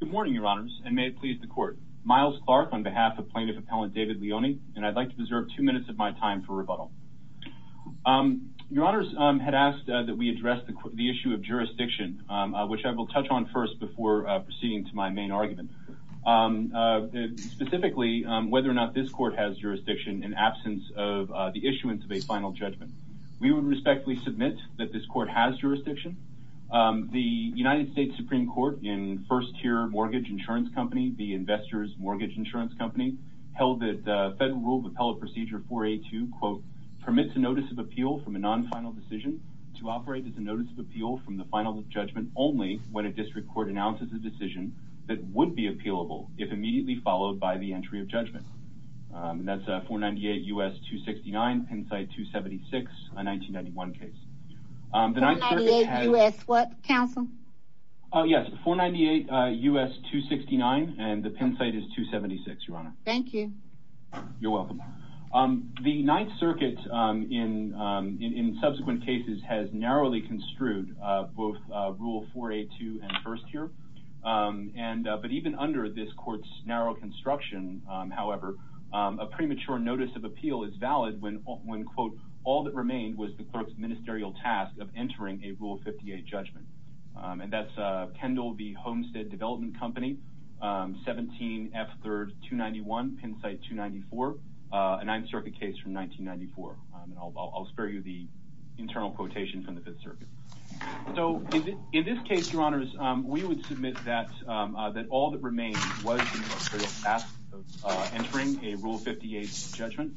Good morning, Your Honors, and may it please the Court. Miles Clark on behalf of Plaintiff Appellant David Leoni, and I'd like to preserve two minutes of my time for rebuttal. Your Honors had asked that we address the issue of jurisdiction, which I will touch on first before proceeding to my main argument. Specifically, whether or not this Court has jurisdiction in absence of the issuance of a final judgment. We would respectfully submit that this Court has The investors mortgage insurance company held that Federal Rule of Appellate Procedure 4.A.2 permits a notice of appeal from a non-final decision to operate as a notice of appeal from the final judgment only when a district court announces a decision that would be appealable if immediately followed by the entry of judgment. That's a 498 U.S. 269. Pennsylvania 276, a 1991 case. 498 U.S. what, counsel? Oh yes, 498 U.S. 269 and the Penn site is 276, Your Honor. Thank you. You're welcome. The Ninth Circuit in subsequent cases has narrowly construed both Rule 4.A.2 and 1st here, but even under this court's narrow construction, however, a premature notice of appeal is valid when quote, all that remained was the clerk's ministerial task of entering a Rule 58 judgment. And that's Kendall v. Homestead Development Company, 17 F. 3rd 291, Penn site 294, a Ninth Circuit case from 1994. I'll spare you the internal quotation from the Fifth Circuit. So in this case, Your Honors, we would submit that all that remained was the clerk's ministerial task of entering a Rule 58 judgment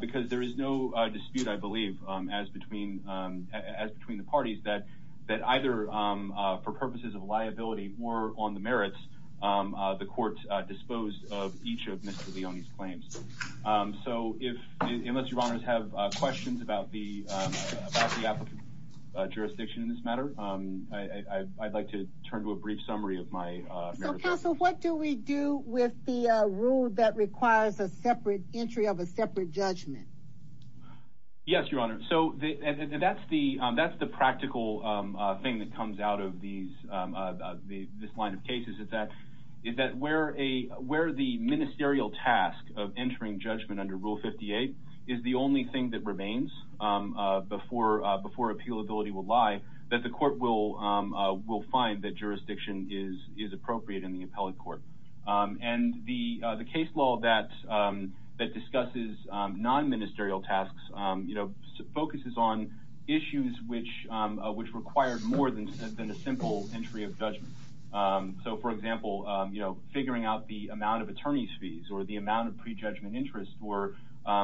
because there is no dispute, I believe, as between the parties that either for purposes of liability or on the merits, the courts disposed of each of Mr. Leone's claims. So if, unless Your Honors have questions about the applicant's jurisdiction in this matter, I'd like to turn to a brief summary of my merits. So, counsel, what do we do with the rule that requires a separate entry of a court? Yes, Your Honor. So that's the practical thing that comes out of this line of cases, is that where the ministerial task of entering judgment under Rule 58 is the only thing that remains before appealability will lie, that the court will find that jurisdiction is appropriate in the appellate court. And the case law that discusses non-ministerial tasks focuses on issues which required more than a simple entry of judgment. So, for example, figuring out the amount of attorney's fees or the amount of pre-judgment interest or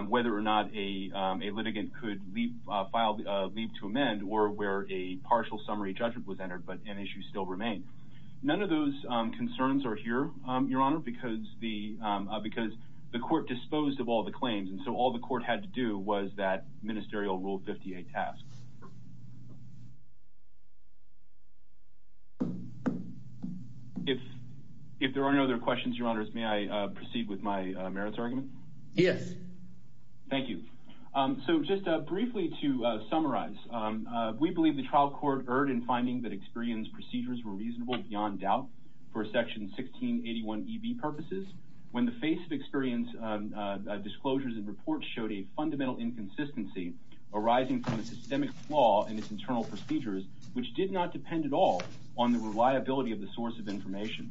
whether or not a litigant could leave to amend or where a partial summary judgment was entered but an issue still remained. None of those concerns are here, Your All the court had to do was that ministerial Rule 58 task. If there are any other questions, Your Honors, may I proceed with my merits argument? Yes. Thank you. So just briefly to summarize, we believe the trial court erred in finding that experienced procedures were reasonable beyond doubt for Section 1681 EV purposes when the face of experienced disclosures and reports showed a fundamental inconsistency arising from a systemic flaw in its internal procedures which did not depend at all on the reliability of the source of information.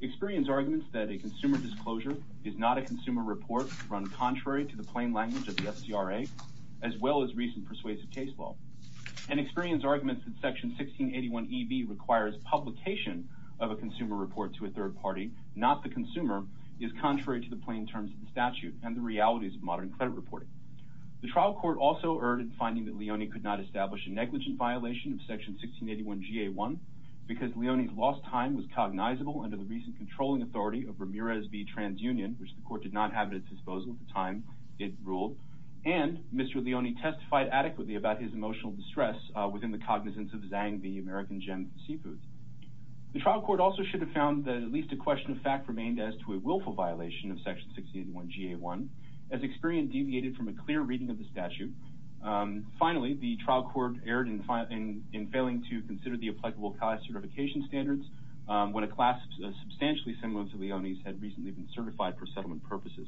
Experienced arguments that a consumer disclosure is not a consumer report run contrary to the plain language of the FCRA, as well as recent persuasive case law. And experienced arguments that Section 1681 EV requires publication of a consumer report to a third party, not the consumer, is contrary to the plain terms of the statute and the realities of modern credit reporting. The trial court also erred in finding that Leone could not establish a negligent violation of Section 1681 GA1 because Leone's lost time was cognizable under the recent controlling authority of Ramirez v. TransUnion, which the court did not have at its disposal at the time it ruled, and Mr. Leone testified adequately about his emotional distress within the Leonean seafood. The trial court also should have found that at least a question of fact remained as to a willful violation of Section 1681 GA1, as experience deviated from a clear reading of the statute. Finally, the trial court erred in failing to consider the applicable CAI certification standards when a class substantially similar to Leone's had recently been certified for settlement purposes.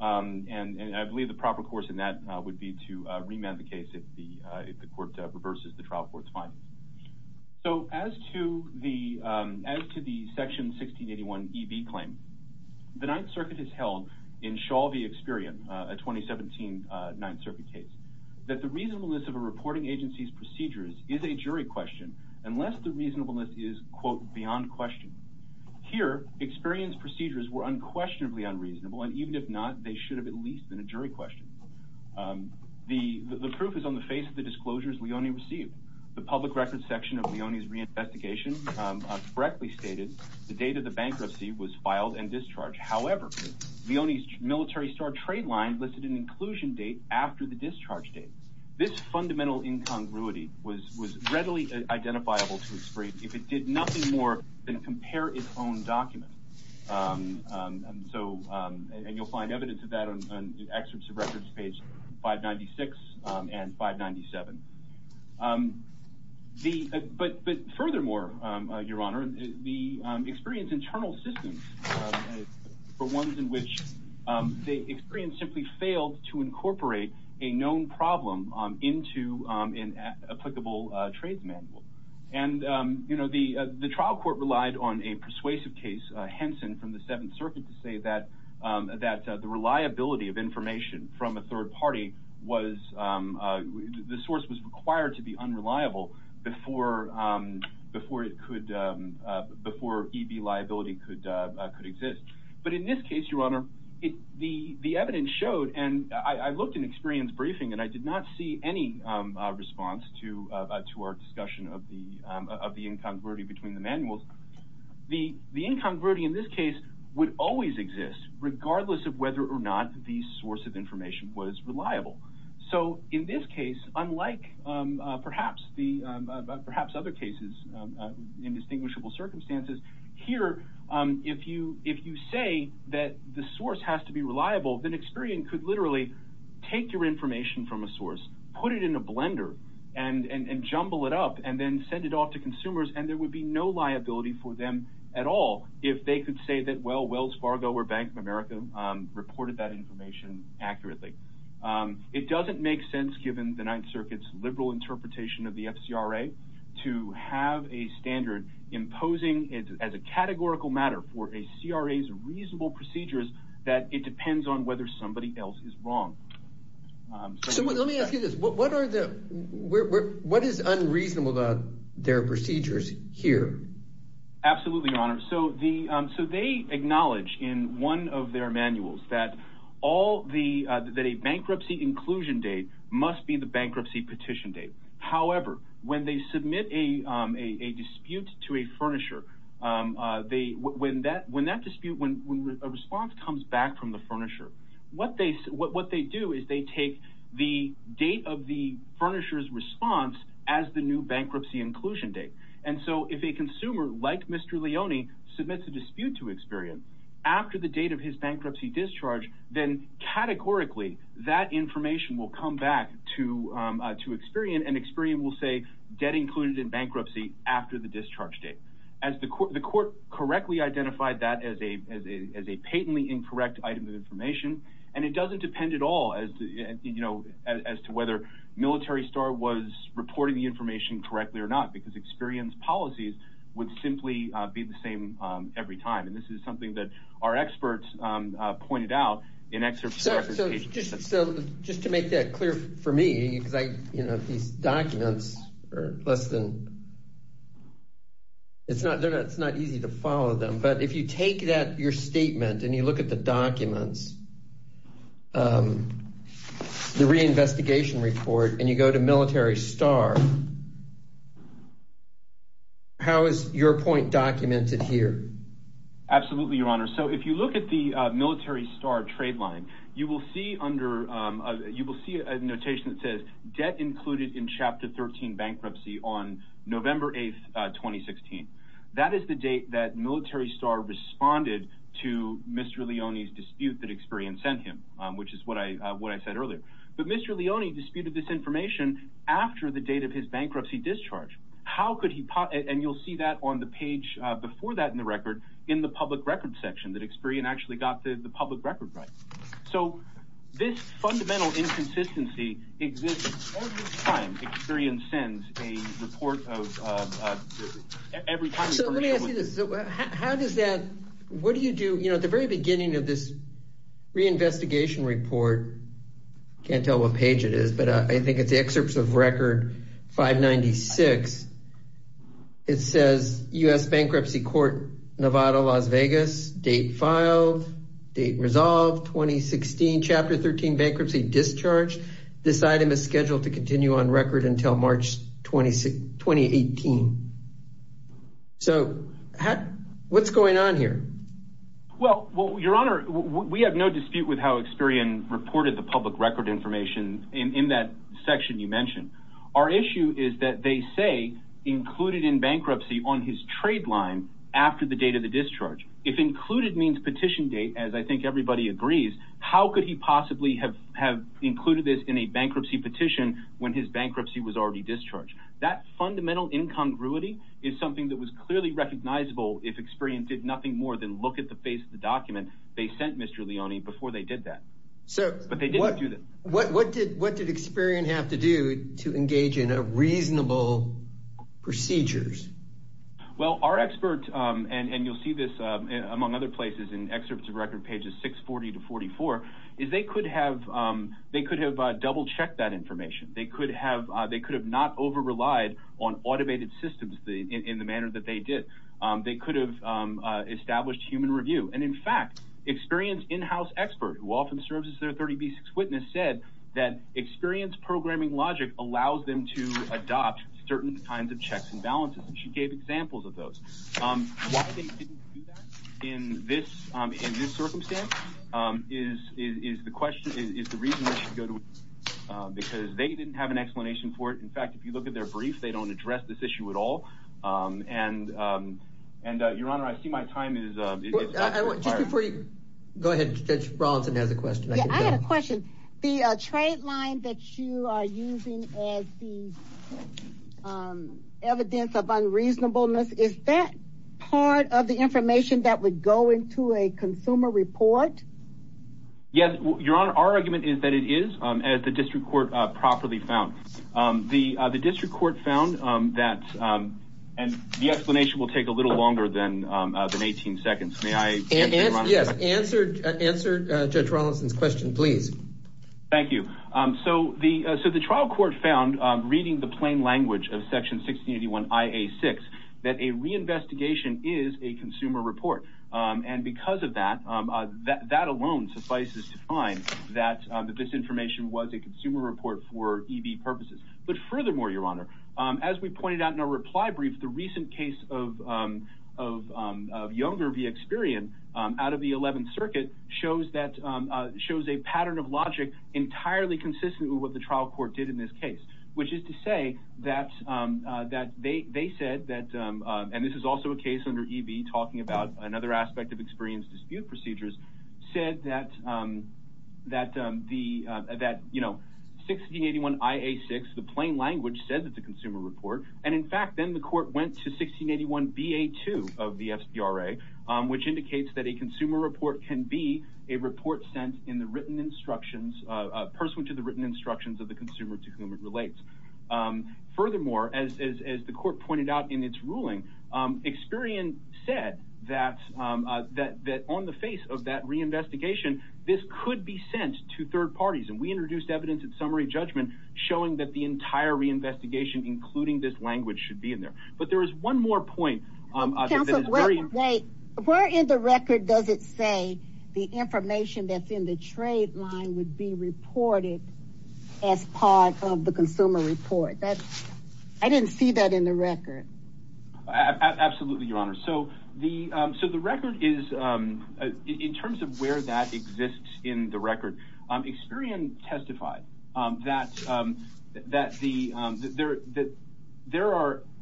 And I believe the proper course in that would be to So as to the Section 1681 EB claim, the Ninth Circuit has held in Shalvey Experian, a 2017 Ninth Circuit case, that the reasonableness of a reporting agency's procedures is a jury question unless the reasonableness is quote beyond question. Here Experian's procedures were unquestionably unreasonable and even if not they should have at least been a jury question. The public records section of Leone's reinvestigation correctly stated the date of the bankruptcy was filed and discharged. However, Leone's Military Star trade line listed an inclusion date after the discharge date. This fundamental incongruity was readily identifiable to Experian if it did nothing more than compare its own document. And you'll find evidence of that on excerpts of records page 596 and 597. But furthermore, your honor, the Experian's internal systems for ones in which the Experian simply failed to incorporate a known problem into an applicable trades manual. And you know the the trial court relied on a persuasive case, Henson from the Seventh and the liability of information from a third party was, the source was required to be unreliable before it could, before EB liability could exist. But in this case, your honor, the evidence showed and I looked in Experian's briefing and I did not see any response to our discussion of the incongruity between the manuals. The incongruity in this case would always exist regardless of whether or not the source of information was reliable. So in this case, unlike perhaps other cases in distinguishable circumstances, here if you say that the source has to be reliable, then Experian could literally take your information from a source, put it in a blender, and jumble it up and then send it off to consumers and there would be no liability for them at all if they could say that, well, Wells Fargo or Bank of America reported that information accurately. It doesn't make sense given the Ninth Circuit's liberal interpretation of the FCRA to have a standard imposing it as a categorical matter for a CRA's reasonable procedures that it depends on whether somebody else is wrong. So let me ask you this, what are the, what is unreasonable about their procedures here? Absolutely, your honor, so they acknowledge in one of their manuals that a bankruptcy inclusion date must be the bankruptcy petition date. However, when they submit a dispute to a furnisher, when that dispute, when a response comes back from the furnisher, what they do is they take the date of the furnisher's response as the new bankruptcy inclusion date. And so if a dispute to Experian after the date of his bankruptcy discharge, then categorically that information will come back to Experian and Experian will say debt included in bankruptcy after the discharge date. The court correctly identified that as a patently incorrect item of information and it doesn't depend at all as to whether Military Star was reporting the information correctly or not because Experian's policies would simply be the same every time. And this is something that our experts pointed out in... So just to make that clear for me, because these documents are less than, it's not easy to follow them, but if you take that, your statement and you look at the documents, the reinvestigation report and you go to Absolutely, Your Honor. So if you look at the Military Star trade line, you will see under, you will see a notation that says, debt included in Chapter 13 bankruptcy on November 8th, 2016. That is the date that Military Star responded to Mr. Leone's dispute that Experian sent him, which is what I said earlier. But Mr. Leone disputed this information after the date of his page before that in the record, in the public record section, that Experian actually got the public record right. So this fundamental inconsistency exists all the time. Experian sends a report of every time. So let me ask you this. How does that, what do you do, at the very beginning of this reinvestigation report, can't tell what page it is, but I think it's U.S. Bankruptcy Court, Nevada, Las Vegas, date filed, date resolved, 2016, Chapter 13 bankruptcy discharged. This item is scheduled to continue on record until March 2018. So what's going on here? Well, Your Honor, we have no dispute with how Experian reported the public record information in that section you trade line after the date of the discharge. If included means petition date, as I think everybody agrees, how could he possibly have have included this in a bankruptcy petition when his bankruptcy was already discharged? That fundamental incongruity is something that was clearly recognizable if Experian did nothing more than look at the face of the document they sent Mr. Leone before they did that. So what did Experian have to do to Well, our experts, and you'll see this among other places in excerpts of record pages 640 to 44, is they could have double-checked that information. They could have not over relied on automated systems in the manner that they did. They could have established human review and in fact Experian's in-house expert, who often serves as their 30B6 witness, said that Experian's programming logic allows them to adopt certain kinds of checks and balances, and she gave examples of those. Why they didn't do that in this circumstance is the question, is the reason they should go to Experian, because they didn't have an explanation for it. In fact, if you look at their brief, they don't address this issue at all, and Your Honor, I see my time is up. Go ahead, Judge Rawlinson has a question. I had a question. The trade line that you are using as the evidence of unreasonableness, is that part of the information that would go into a consumer report? Yes, Your Honor, our argument is that it is, as the district court properly found. The district court found that, and the explanation will take a little longer than 18 seconds. May I answer, yes, answer Judge Rawlinson's question, please? Thank you. So the trial court found, reading the plain language of section 1681 IA6, that a reinvestigation is a consumer report, and because of that, that alone suffices to find that this information was a consumer report for EB purposes. But furthermore, Your Honor, as we pointed out in our reply brief, the a pattern of logic entirely consistent with what the trial court did in this case, which is to say that they said that, and this is also a case under EB talking about another aspect of experience dispute procedures, said that 1681 IA6, the plain language, said that it's a consumer report, and in fact, then the court went to 1681 BA2 of the FBRA, which a person to the written instructions of the consumer to whom it relates. Furthermore, as the court pointed out in its ruling, Experian said that on the face of that reinvestigation, this could be sent to third parties, and we introduced evidence at summary judgment showing that the entire reinvestigation, including this language, should be in there. But there is one more point. Counsel, wait. Where in the record does it say the information that's in the trade line would be reported as part of the consumer report? I didn't see that in the record. Absolutely, Your Honor. So the record is, in terms of where that exists in the record, Experian testified that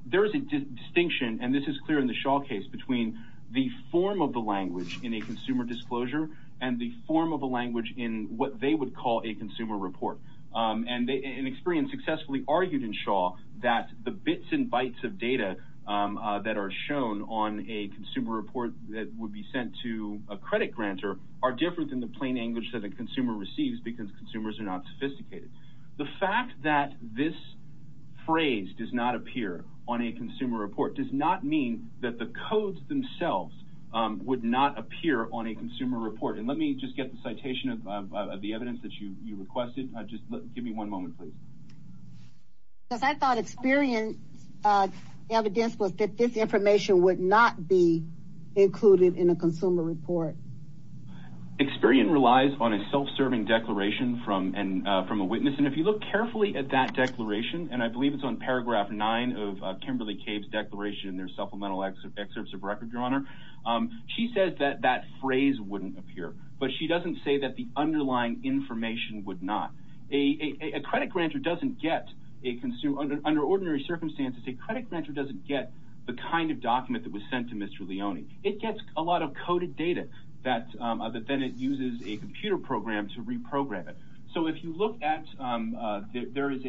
there is a distinction, and this is clear in the language in what they would call a consumer report. And Experian successfully argued in Shaw that the bits and bytes of data that are shown on a consumer report that would be sent to a credit grantor are different than the plain language that a consumer receives because consumers are not sophisticated. The fact that this phrase does not appear on a consumer report does not mean that the codes themselves would not appear on a consumer report. And let me just get the citation of the evidence that you requested. Just give me one moment, please. Because I thought Experian's evidence was that this information would not be included in a consumer report. Experian relies on a self-serving declaration from a witness, and if you look carefully at that declaration, and I believe it's on paragraph 9 of Kimberly Cave's declaration in their supplemental excerpts of record, Your Honor, she says that that phrase wouldn't appear. But she doesn't say that the underlying information would not. A credit grantor doesn't get, under ordinary circumstances, a credit grantor doesn't get the kind of document that was sent to Mr. Leone. It gets a lot of coded data that then it uses a computer program to reprogram it. So if you look at, there is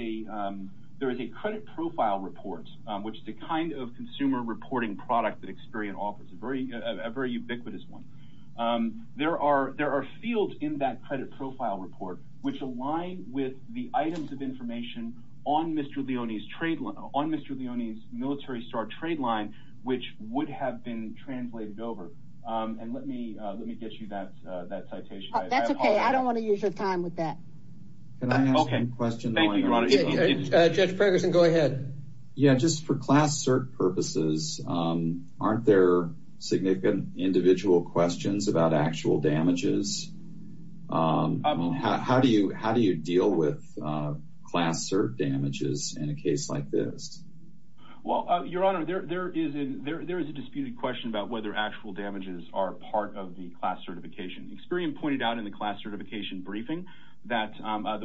a credit profile report, which is a kind of consumer reporting product that Experian offers, a very ubiquitous one. There are fields in that credit profile report which align with the items of information on Mr. Leone's military star trade line, which would have been translated over. And let me get you that citation. That's okay, I don't want to use your time with that. Can I ask a question? Judge Pregerson, go ahead. Yeah, just for class cert purposes, aren't there significant individual questions about actual damages? How do you, how do you deal with class cert damages in a case like this? Well, Your Honor, there is a disputed question about whether actual damages are part of the class certification. Experian pointed out in the class certification briefing that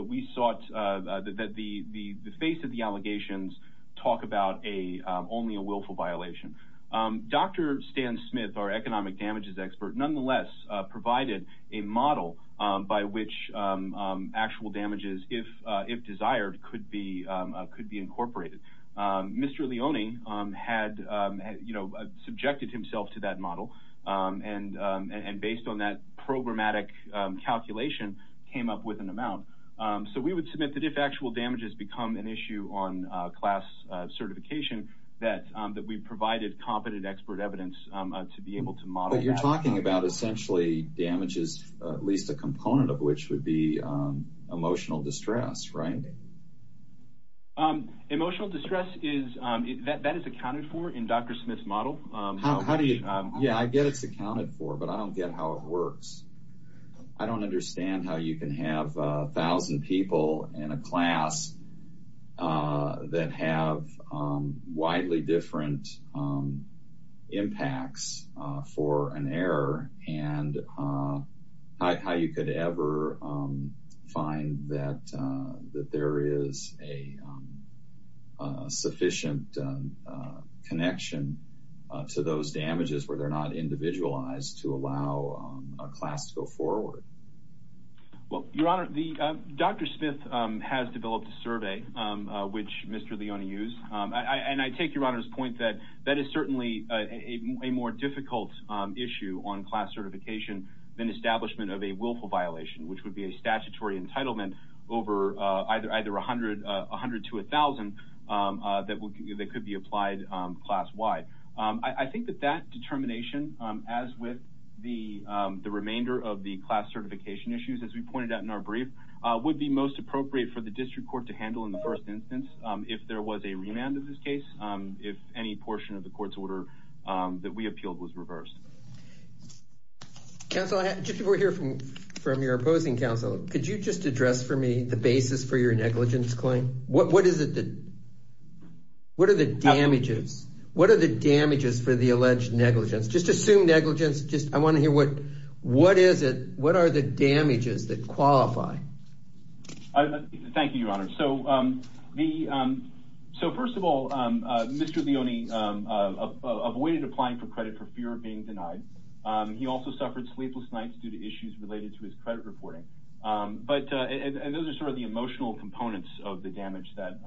we sought, that the face of the case was only a willful violation. Dr. Stan Smith, our economic damages expert, nonetheless provided a model by which actual damages, if desired, could be incorporated. Mr. Leone had, you know, subjected himself to that model and based on that programmatic calculation came up with an amount. So we would submit that if actual damages become an issue on class certification, that we provided competent expert evidence to be able to model. But you're talking about essentially damages, at least a component of which would be emotional distress, right? Emotional distress is, that is accounted for in Dr. Smith's model. How do you, yeah, I get it's accounted for, but I don't get how it works. I don't understand how you can have a thousand people in a class that have widely different impacts for an error and how you could ever find that there is a sufficient connection to those damages where they're not Well, your honor, Dr. Smith has developed a survey which Mr. Leone used and I take your honor's point that that is certainly a more difficult issue on class certification than establishment of a willful violation, which would be a statutory entitlement over either 100 to 1,000 that could be applied class-wide. I think that that determination, as with the remainder of the class certification issues, as we pointed out in our brief, would be most appropriate for the district court to handle in the first instance if there was a remand in this case, if any portion of the court's order that we appealed was reversed. Counsel, just before we hear from your opposing counsel, could you just address for me the basis for your negligence claim? What is it that, what are the damages, what are the damages for the alleged negligence? Just assume negligence, just I want to hear what is it, what are the damages that qualify? Thank you, your honor. So, first of all, Mr. Leone avoided applying for credit for fear of being denied. He also suffered sleepless nights due to issues related to his credit reporting, but and those are sort of the emotional components of the damage that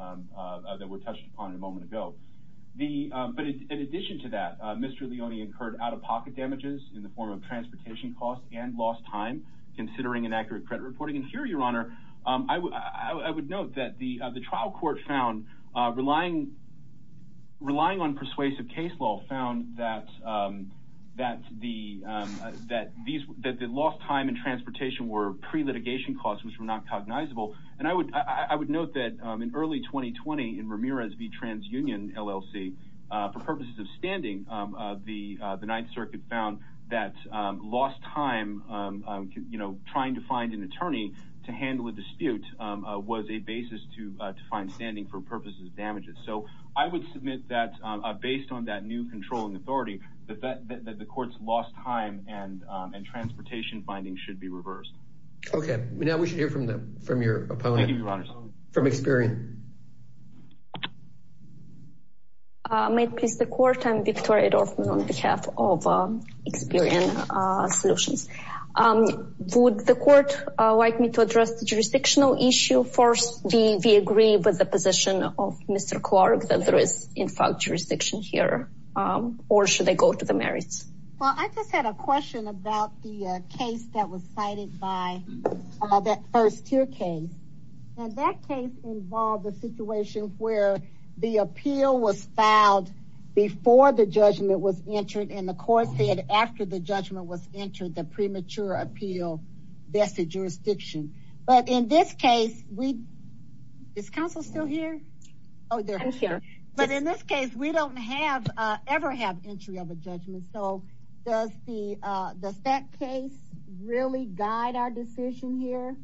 were touched upon a moment ago. But in addition to that, Mr. Leone incurred out-of-pocket damages in the form of transportation costs and lost time, considering inaccurate credit reporting. And here, your honor, I would note that the trial court found, relying on persuasive case law, found that the lost time and transportation were pre-litigation costs which were not cognizable. And I would note that in early 2020 in Ramirez v. TransUnion LLC, for purposes of standing, the Ninth Circuit found that lost time, you know, trying to find an attorney to handle a dispute was a basis to find standing for purposes of damages. So, I would submit that, based on that new controlling authority, that the court's lost time and transportation findings should be reversed. Okay, now we should hear from May it please the court, I'm Victoria Dorfman on behalf of Experian Solutions. Would the court like me to address the jurisdictional issue first? Do we agree with the position of Mr. Clark that there is in fact jurisdiction here, or should I go to the merits? Well, I just had a question about the case that was cited by that first tier case, and that case involved a situation where the appeal was filed before the judgment was entered, and the court said after the judgment was entered, the premature appeal vested jurisdiction. But in this case, we, is counsel still here? Oh, they're here. But in this case, we don't have, ever have entry of a judgment. So, does the, does that case really guide our decision here?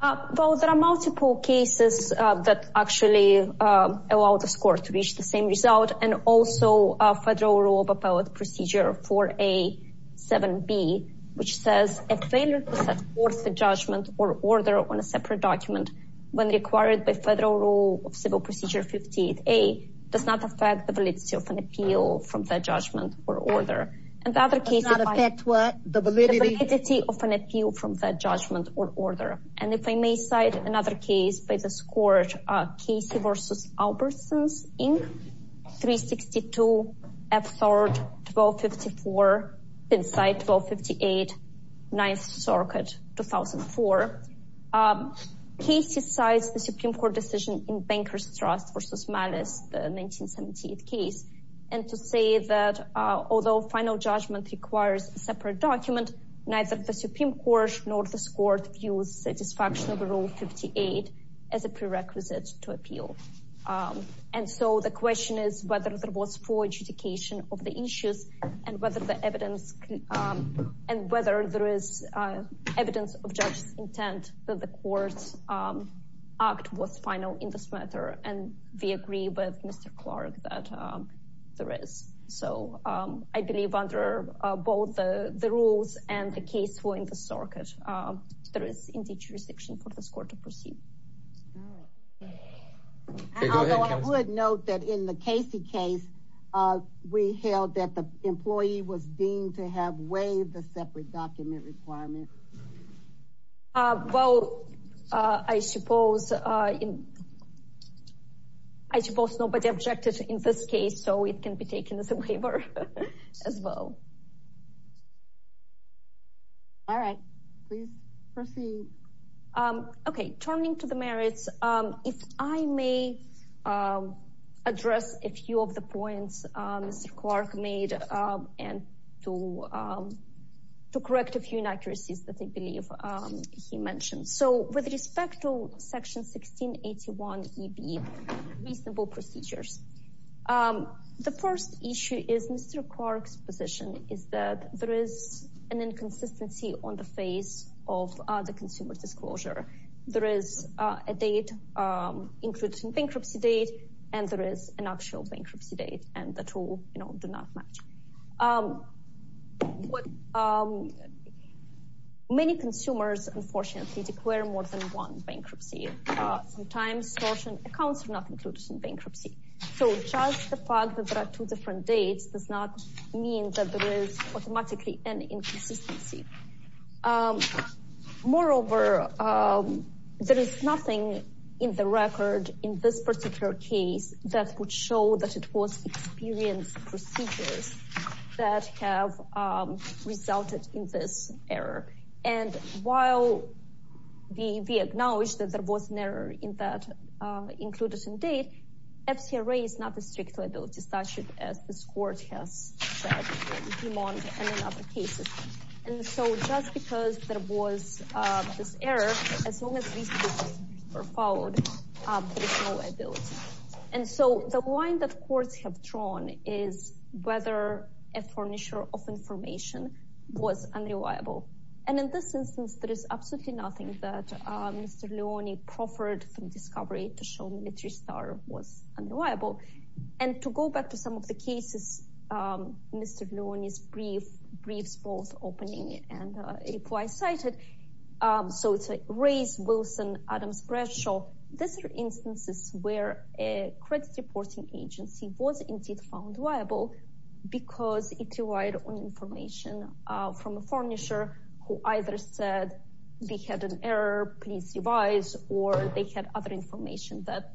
Well, there are multiple cases that actually allow the score to reach the same result, and also a Federal Rule of Appellate Procedure 4A, 7B, which says, a failure to set forth the judgment or order on a separate document when required by Federal Rule of Civil Procedure 58A, does not affect the validity of an appeal from that judgment or order. And the other case, does not affect what? The validity of an appeal from that judgment or order. And if I may cite another case by this court, Casey v. Albertsons, Inc., 362 F. Thorde, 1254, Pennside, 1258, 9th Circuit, 2004. Casey cites the Supreme Court decision in Banker's Trust v. Malice, the 1978 case, and to say that although final judgment requires a separate document, neither the Supreme Court nor this Court views satisfaction of Rule 58 as a prerequisite to appeal. And so, the question is whether there was full adjudication of the issues, and whether the evidence, and whether there is evidence of judge's intent that the court's act was final in this matter. And we agree with Mr. Clark that there is. So, I believe under both the rules and the case for in the circuit, there is indeed jurisdiction for this court to proceed. I would note that in the Casey case, we held that the employee was deemed to have waived the separate document requirement. Well, I suppose nobody objected in this case, so it can be taken as a waiver as well. All right, please proceed. Okay, turning to the merits, if I may address a few of the points Mr. Clark made, and to correct a few inaccuracies that I The first issue is Mr. Clark's position is that there is an inconsistency on the face of the consumer disclosure. There is a date, including bankruptcy date, and there is an actual bankruptcy date, and the two, you know, do not match. Many consumers, unfortunately, declare more than one fact that there are two different dates does not mean that there is automatically an inconsistency. Moreover, there is nothing in the record in this particular case that would show that it was experienced procedures that have resulted in this error. And while we acknowledge that there was an FCRA is not a strict liability statute, as this court has said, and in other cases, and so just because there was this error, as long as these two were followed, there is no liability. And so the line that courts have drawn is whether a furnisher of information was unreliable. And in this instance, there is absolutely nothing that Mr. Leone proffered from discovery to show military star was unreliable. And to go back to some of the cases, Mr. Leone's brief, briefs both opening and reply cited. So it's a race Wilson Adams Bradshaw. These are instances where a credit reporting agency was indeed found liable, because it relied on information from a furnisher who either said we had an error, please revise, or they had other information that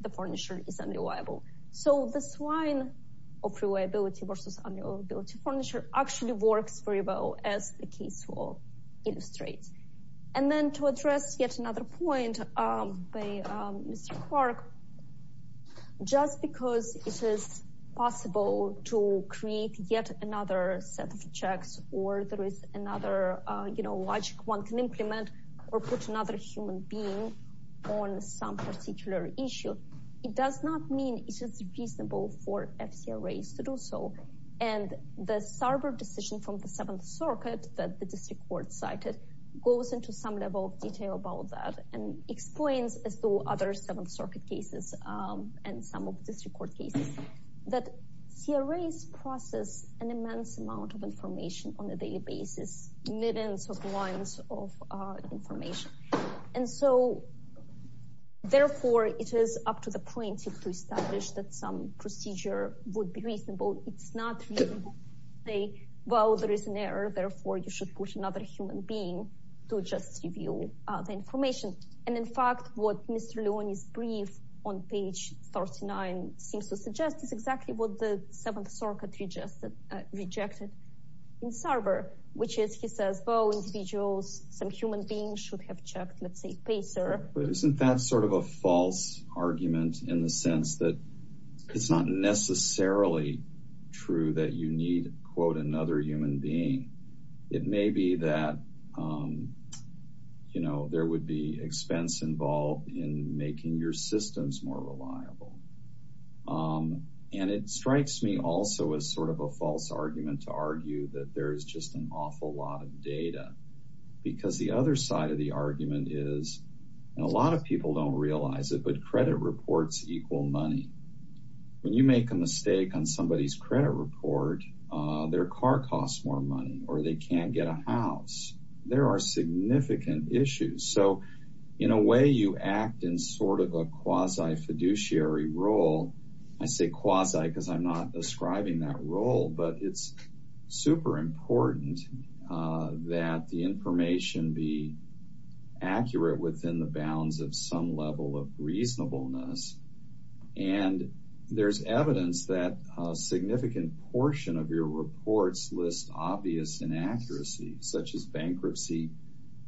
the furniture is unreliable. So this line of reliability versus unreliability furniture actually works very well as the case will illustrate. And then to address yet another point by Mr. Clark, just because it is possible to create yet another set of checks, or there is another, you know, logic one can implement or put another human being on some particular issue. It does not mean it is reasonable for FCA race to do so. And the server decision from the seventh circuit that the district cited goes into some level of detail about that and explains as to other seventh circuit cases, and some of this report cases, that CRS process an immense amount of information on a daily basis, millions of lines of information. And so therefore, it is up to the point to establish that some procedure would be reasonable, it's not a, well, there is an error, therefore, you should put another human being to just review the information. And in fact, what Mr. Leone's brief on page 39 seems to suggest is exactly what the seventh circuit rejected in server, which is, he says, well, individuals, some human beings should have checked, let's say, pacer. But isn't that sort of a false argument in the sense that it's not necessarily true that you quote another human being. It may be that, you know, there would be expense involved in making your systems more reliable. And it strikes me also as sort of a false argument to argue that there is just an awful lot of data. Because the other side of the argument is, and a lot of people don't realize it, but credit reports equal money. When you make a mistake on somebody's credit report, their car costs more money, or they can't get a house, there are significant issues. So, in a way, you act in sort of a quasi fiduciary role. I say quasi because I'm not describing that role. But it's super important that the information be accurate within the bounds of some level of reasonableness. And there's evidence that a significant portion of your reports list obvious inaccuracies, such as bankruptcy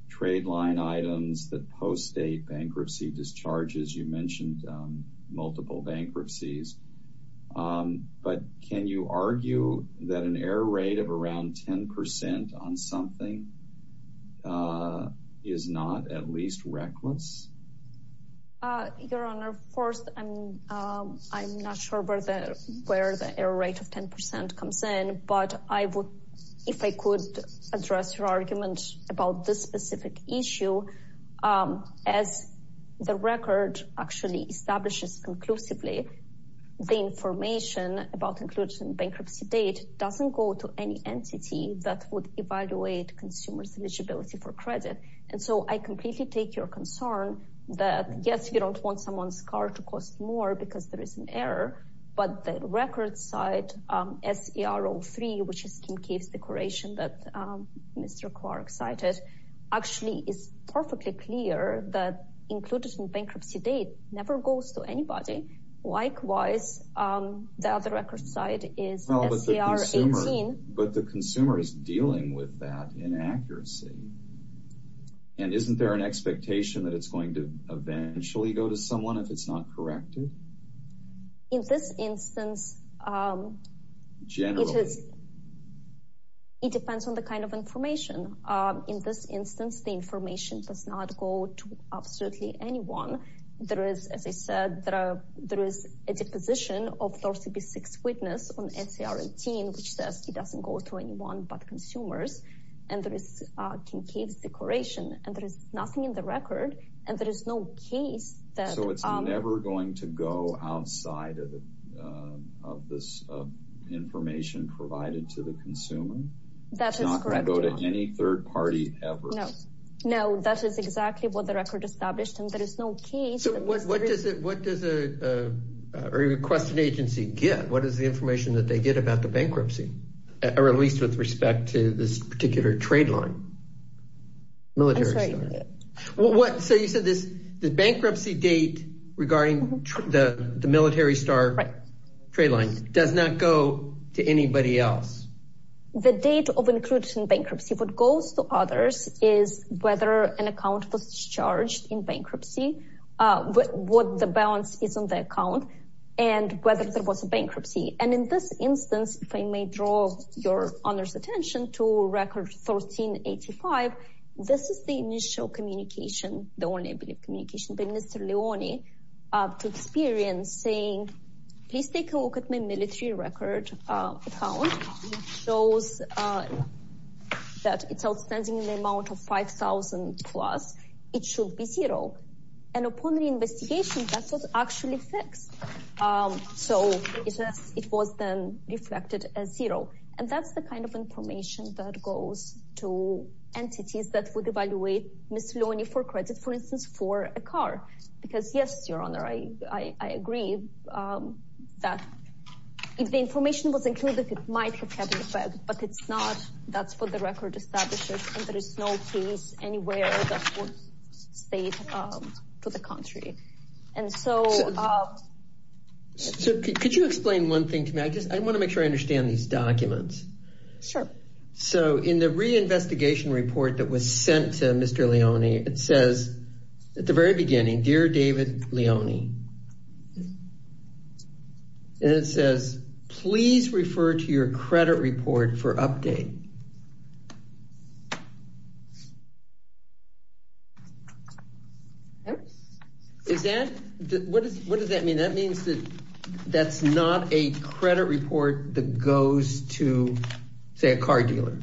trade line items that post-date bankruptcy discharges. You mentioned multiple bankruptcies. But can you argue that an error rate of around 10 percent on something is not at least reckless? Your Honor, first, I'm not sure where the error rate of 10 percent comes in. But if I could address your argument about this specific issue, as the record actually establishes conclusively, the information about inclusion bankruptcy date doesn't go to any entity that would evaluate consumers' eligibility for credit. And so, I completely take your concern that, yes, you don't want someone's car to cost more because there is an error. But the record side, SER03, which is Kim Cave's declaration that Mr. Clark cited, actually is perfectly clear that inclusion bankruptcy date never goes to anybody. Likewise, the other record side is SER18. But the consumer is dealing with that inaccuracy. And isn't there an expectation that it's going to eventually go to someone if it's not corrected? In this instance, it depends on the kind of information. In this instance, the information does not go to absolutely anyone. There is, as I said, there is a deposition of SER36 witness on SER18, which says it doesn't go to anyone but consumers. And there is Kim Cave's declaration. And there is nothing in the record. And there is no case that... So it's never going to go outside of this information provided to the consumer? That is correct, Your Honor. It's not going to go to any third party ever? No. No, that is exactly what the record established. And there is no case... So what does a requested agency get? What is the information that they get about the bankruptcy? Or at least with respect to this particular trade line? I'm sorry. So you said the bankruptcy date regarding the military star trade line does not go to anybody is whether an account was charged in bankruptcy, what the balance is on the account, and whether there was a bankruptcy. And in this instance, if I may draw Your Honor's attention to record 1385, this is the initial communication, the only I believe communication by Mr. Leone to experience saying, please take a look at my military record account, shows that it's outstanding in the amount of 5,000 plus, it should be zero. And upon the investigation, that was actually fixed. So it was then reflected as zero. And that's the kind of information that goes to entities that would evaluate Mr. Leone for credit, for instance, for a car. Because yes, Your Honor, I agree that if the information was included, it might have had an effect, but it's not. That's what the record establishes. And there is no case anywhere that would state to the country. And so So could you explain one thing to me? I just I want to make sure I understand these documents. Sure. So in the reinvestigation report that was sent to Mr. Leone, it says, at the very beginning, dear David Leone, and it says, please refer to your credit report for update. Is that what does that mean? That means that that's not a credit report that goes to, say, a car dealer.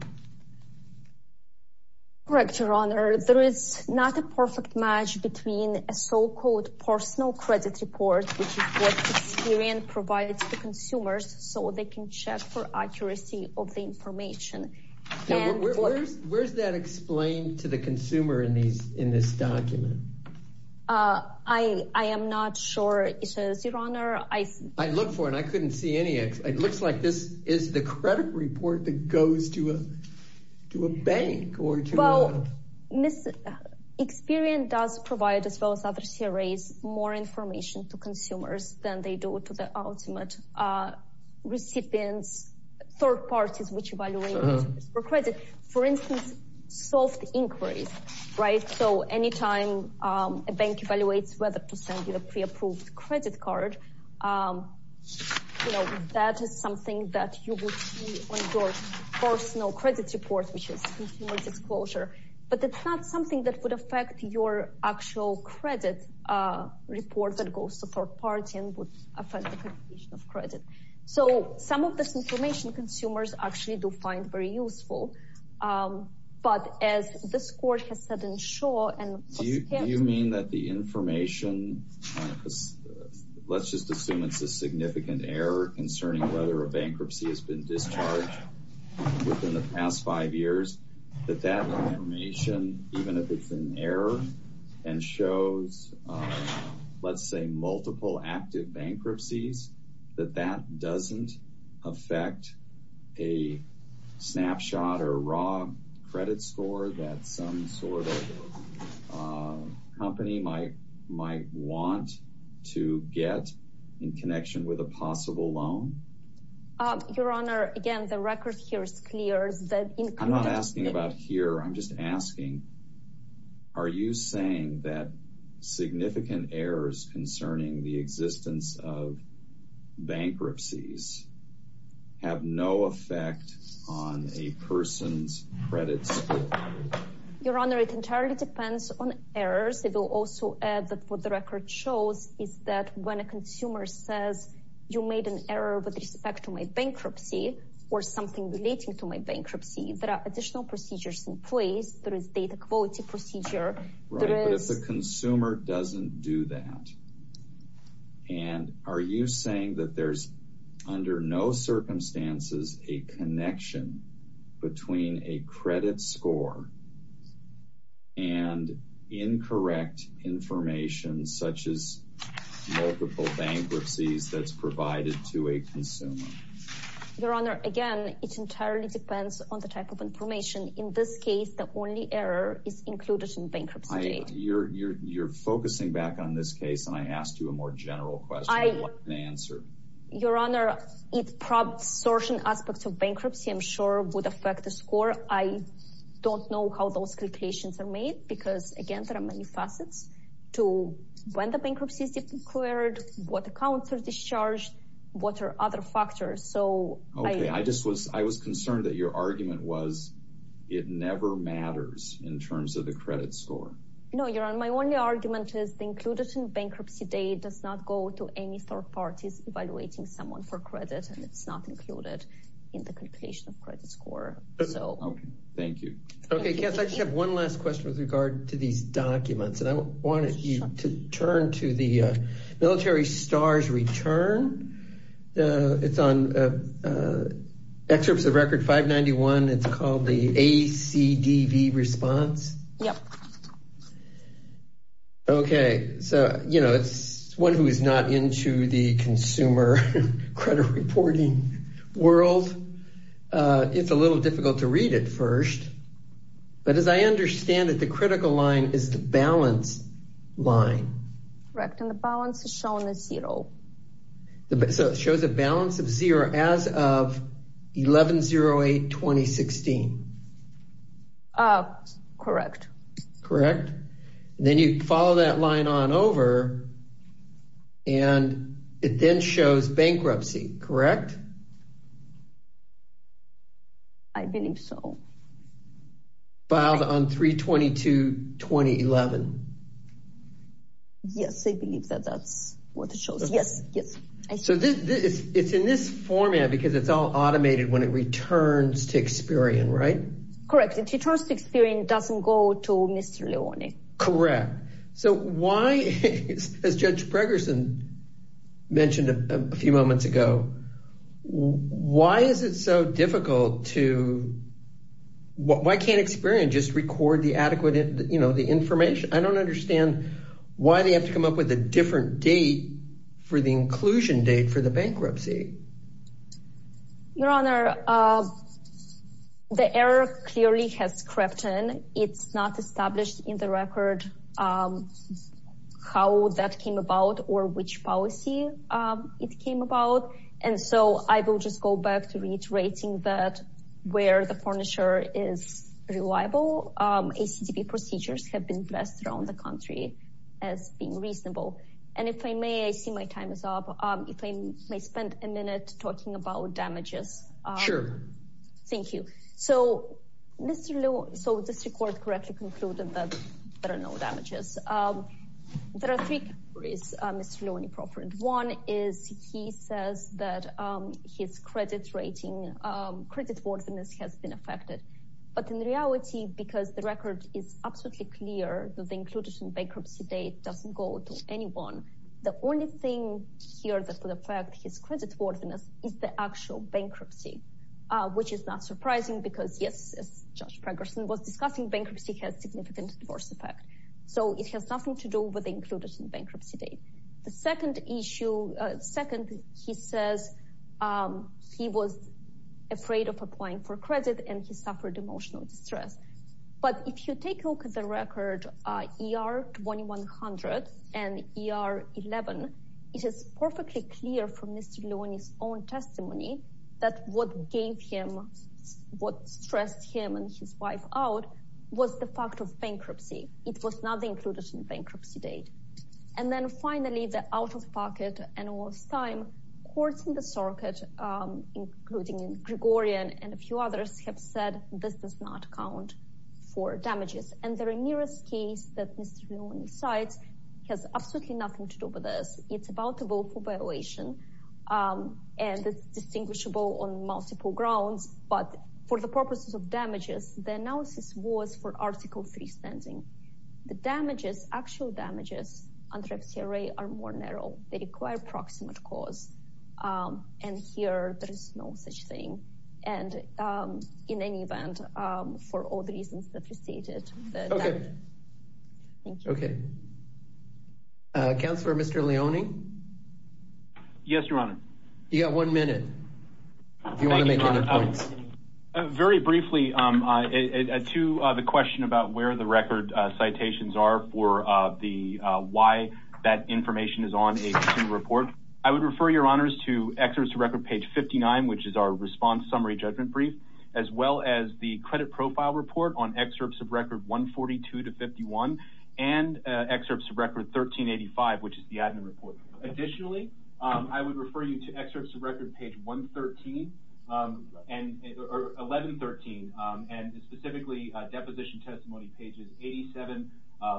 Correct, Your Honor. There is not a perfect match between a so-called personal credit report, which is what Experian provides to consumers so they can check for accuracy of the information. Where's that explained to the consumer in these in this document? I am not sure it says, Your Honor. I look for and I couldn't see any. It looks like this is the credit report that goes to a bank. Experian does provide, as well as other CRAs, more information to consumers than they do to the ultimate recipients, third parties, which evaluate for credit, for instance, soft inquiries. Right. So any time a bank evaluates whether to send you a pre-approved credit card, you know, that is something that you would see on your personal credit report, which is consumer disclosure. But it's not something that would affect your actual credit report that goes to third party and would affect accreditation of credit. So some of this information consumers actually do find very useful. But as this means that the information, let's just assume it's a significant error concerning whether a bankruptcy has been discharged within the past five years, that that information, even if it's an error and shows, let's say, multiple active bankruptcies, that that doesn't affect a snapshot or raw credit score that some sort of company might might want to get in connection with a possible loan. Your Honor, again, the record here is clear. I'm not asking about here. I'm just asking, are you saying that significant errors concerning the existence of bankruptcies have no effect on a person's credit score? Your Honor, it entirely depends on errors. It will also add that what the record shows is that when a consumer says you made an error with respect to my bankruptcy or something relating to my bankruptcy, there are additional procedures in place. There is data quality procedure. Right. But if the consumer doesn't do that, and are you saying that there's under no circumstances a connection between a credit score and incorrect information such as multiple bankruptcies that's provided to a consumer? Your Honor, again, it entirely depends on the type of information. In this case, the only error is included in bankruptcy data. You're focusing back on this case, and I asked you a more general question. What's the answer? Your Honor, it's probably certain aspects of bankruptcy, I'm sure, would affect the score. I don't know how those calculations are made because, again, there are many facets to when the bankruptcy is declared, what accounts are discharged, what are other factors. I was concerned that your argument was it never matters in terms of the credit score. No, Your Honor, my only argument is included in bankruptcy data does not go to any third parties evaluating someone for credit, and it's not included in the completion of credit score. Okay, thank you. Okay, Cass, I just have one last question with regard to these documents, and I wanted you to turn to the ACDV response. Yep. Okay, so, you know, it's one who is not into the consumer credit reporting world. It's a little difficult to read at first, but as I understand it, the critical line is the balance line. Correct, and the balance is shown as zero. So, it shows a balance of zero as of 11-08-2016. Correct. Correct, and then you follow that line on over, and it then shows bankruptcy, correct? I believe so. Filed on 3-22-2011. Yes, I believe that that's what it shows. Yes, yes. So, it's in this format because it's all automated when it returns to Experian, right? Correct, if it returns to Experian, it doesn't go to Mr. Leone. Correct. So, why, as Judge Pregerson mentioned a few moments ago, why is it so difficult to, why can't Experian just record the adequate, you know, the information? I don't understand why they have to come up with a different date for the inclusion date for the bankruptcy. Your Honor, the error clearly has crept in. It's not established in the record how that came about or which policy it came about, and so I will just go back to reiterating that where the furniture is reliable, ACDP procedures have been blessed around the country as being reasonable, and if I may, I see my time is up, if I may spend a minute talking about damages. There are three categories Mr. Leone proffered. One is he says that his credit rating, credit worthiness has been affected, but in reality, because the record is absolutely clear that the inclusion bankruptcy date doesn't go to anyone, the only thing here that will affect his credit worthiness is the actual bankruptcy, which is not surprising because, yes, as Judge Pregerson was discussing, bankruptcy has significant adverse effect, so it has nothing to do with the inclusion bankruptcy date. The second issue, second, he says he was afraid of applying for credit and he suffered emotional distress, but if you take a look at the record ER 2100 and ER 11, it is perfectly clear from Mr. Leone's own testimony that what gave him, what stressed him and his wife out was the fact of bankruptcy. It was not included in bankruptcy date, and then finally, the out-of-pocket and lost time. Courts in the circuit, including in Gregorian and a few others, have said this does not count for damages, and the nearest case that Mr. Leone cites has absolutely nothing to do with this. It's about a willful violation and it's distinguishable on the analysis was for Article 3 standing. The damages, actual damages under FCRA are more narrow. They require proximate cause, and here there is no such thing, and in any event, for all the reasons that you stated. Okay. Thank you. Okay. Counselor, Mr. Leone? Yes, Your Honor. You got one minute. Do you want to make any points? Very briefly, to the question about where the record citations are for the why that information is on a student report, I would refer Your Honors to excerpts to record page 59, which is our response summary judgment brief, as well as the credit profile report on excerpts of record 142 to 51 and excerpts of record 1385, which is the admin report. Additionally, I would refer you to excerpts of record page 1113, and specifically deposition testimony pages 87,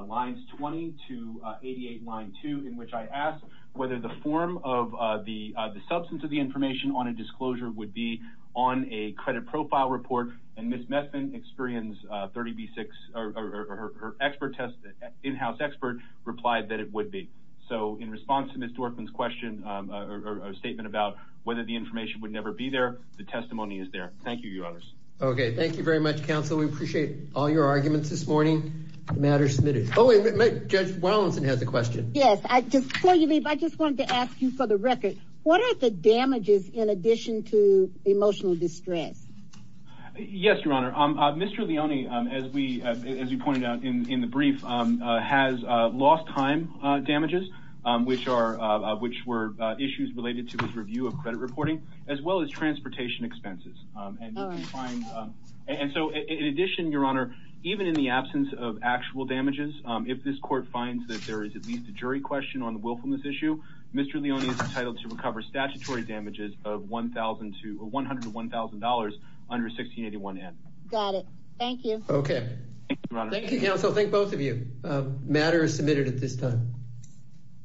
lines 20 to 88, line 2, in which I ask whether the form of the substance of the information on a disclosure would be on a credit profile report, and Ms. Messman, experience 30B6, or her in-house expert, replied that it would be. So in response to Ms. Dworkman's statement about whether the information would never be there, the testimony is there. Thank you, Your Honors. Okay. Thank you very much, Counsel. We appreciate all your arguments this morning. The matter is submitted. Judge Wallinson has a question. Yes. Before you leave, I just wanted to ask you, for the record, what are the damages in addition to emotional distress? Yes, Your Honor. Mr. Leone, as you pointed out in the brief, has lost time damages, which were issues related to his review of credit reporting, as well as transportation expenses. And so in addition, Your Honor, even in the absence of actual damages, if this court finds that there is at least a jury question on the willfulness issue, Mr. Leone is entitled to recover statutory damages of $101,000 under 1681N. Got it. Thank you. Okay. Thank you, Counsel. Thank both of you. Matter is submitted at this time.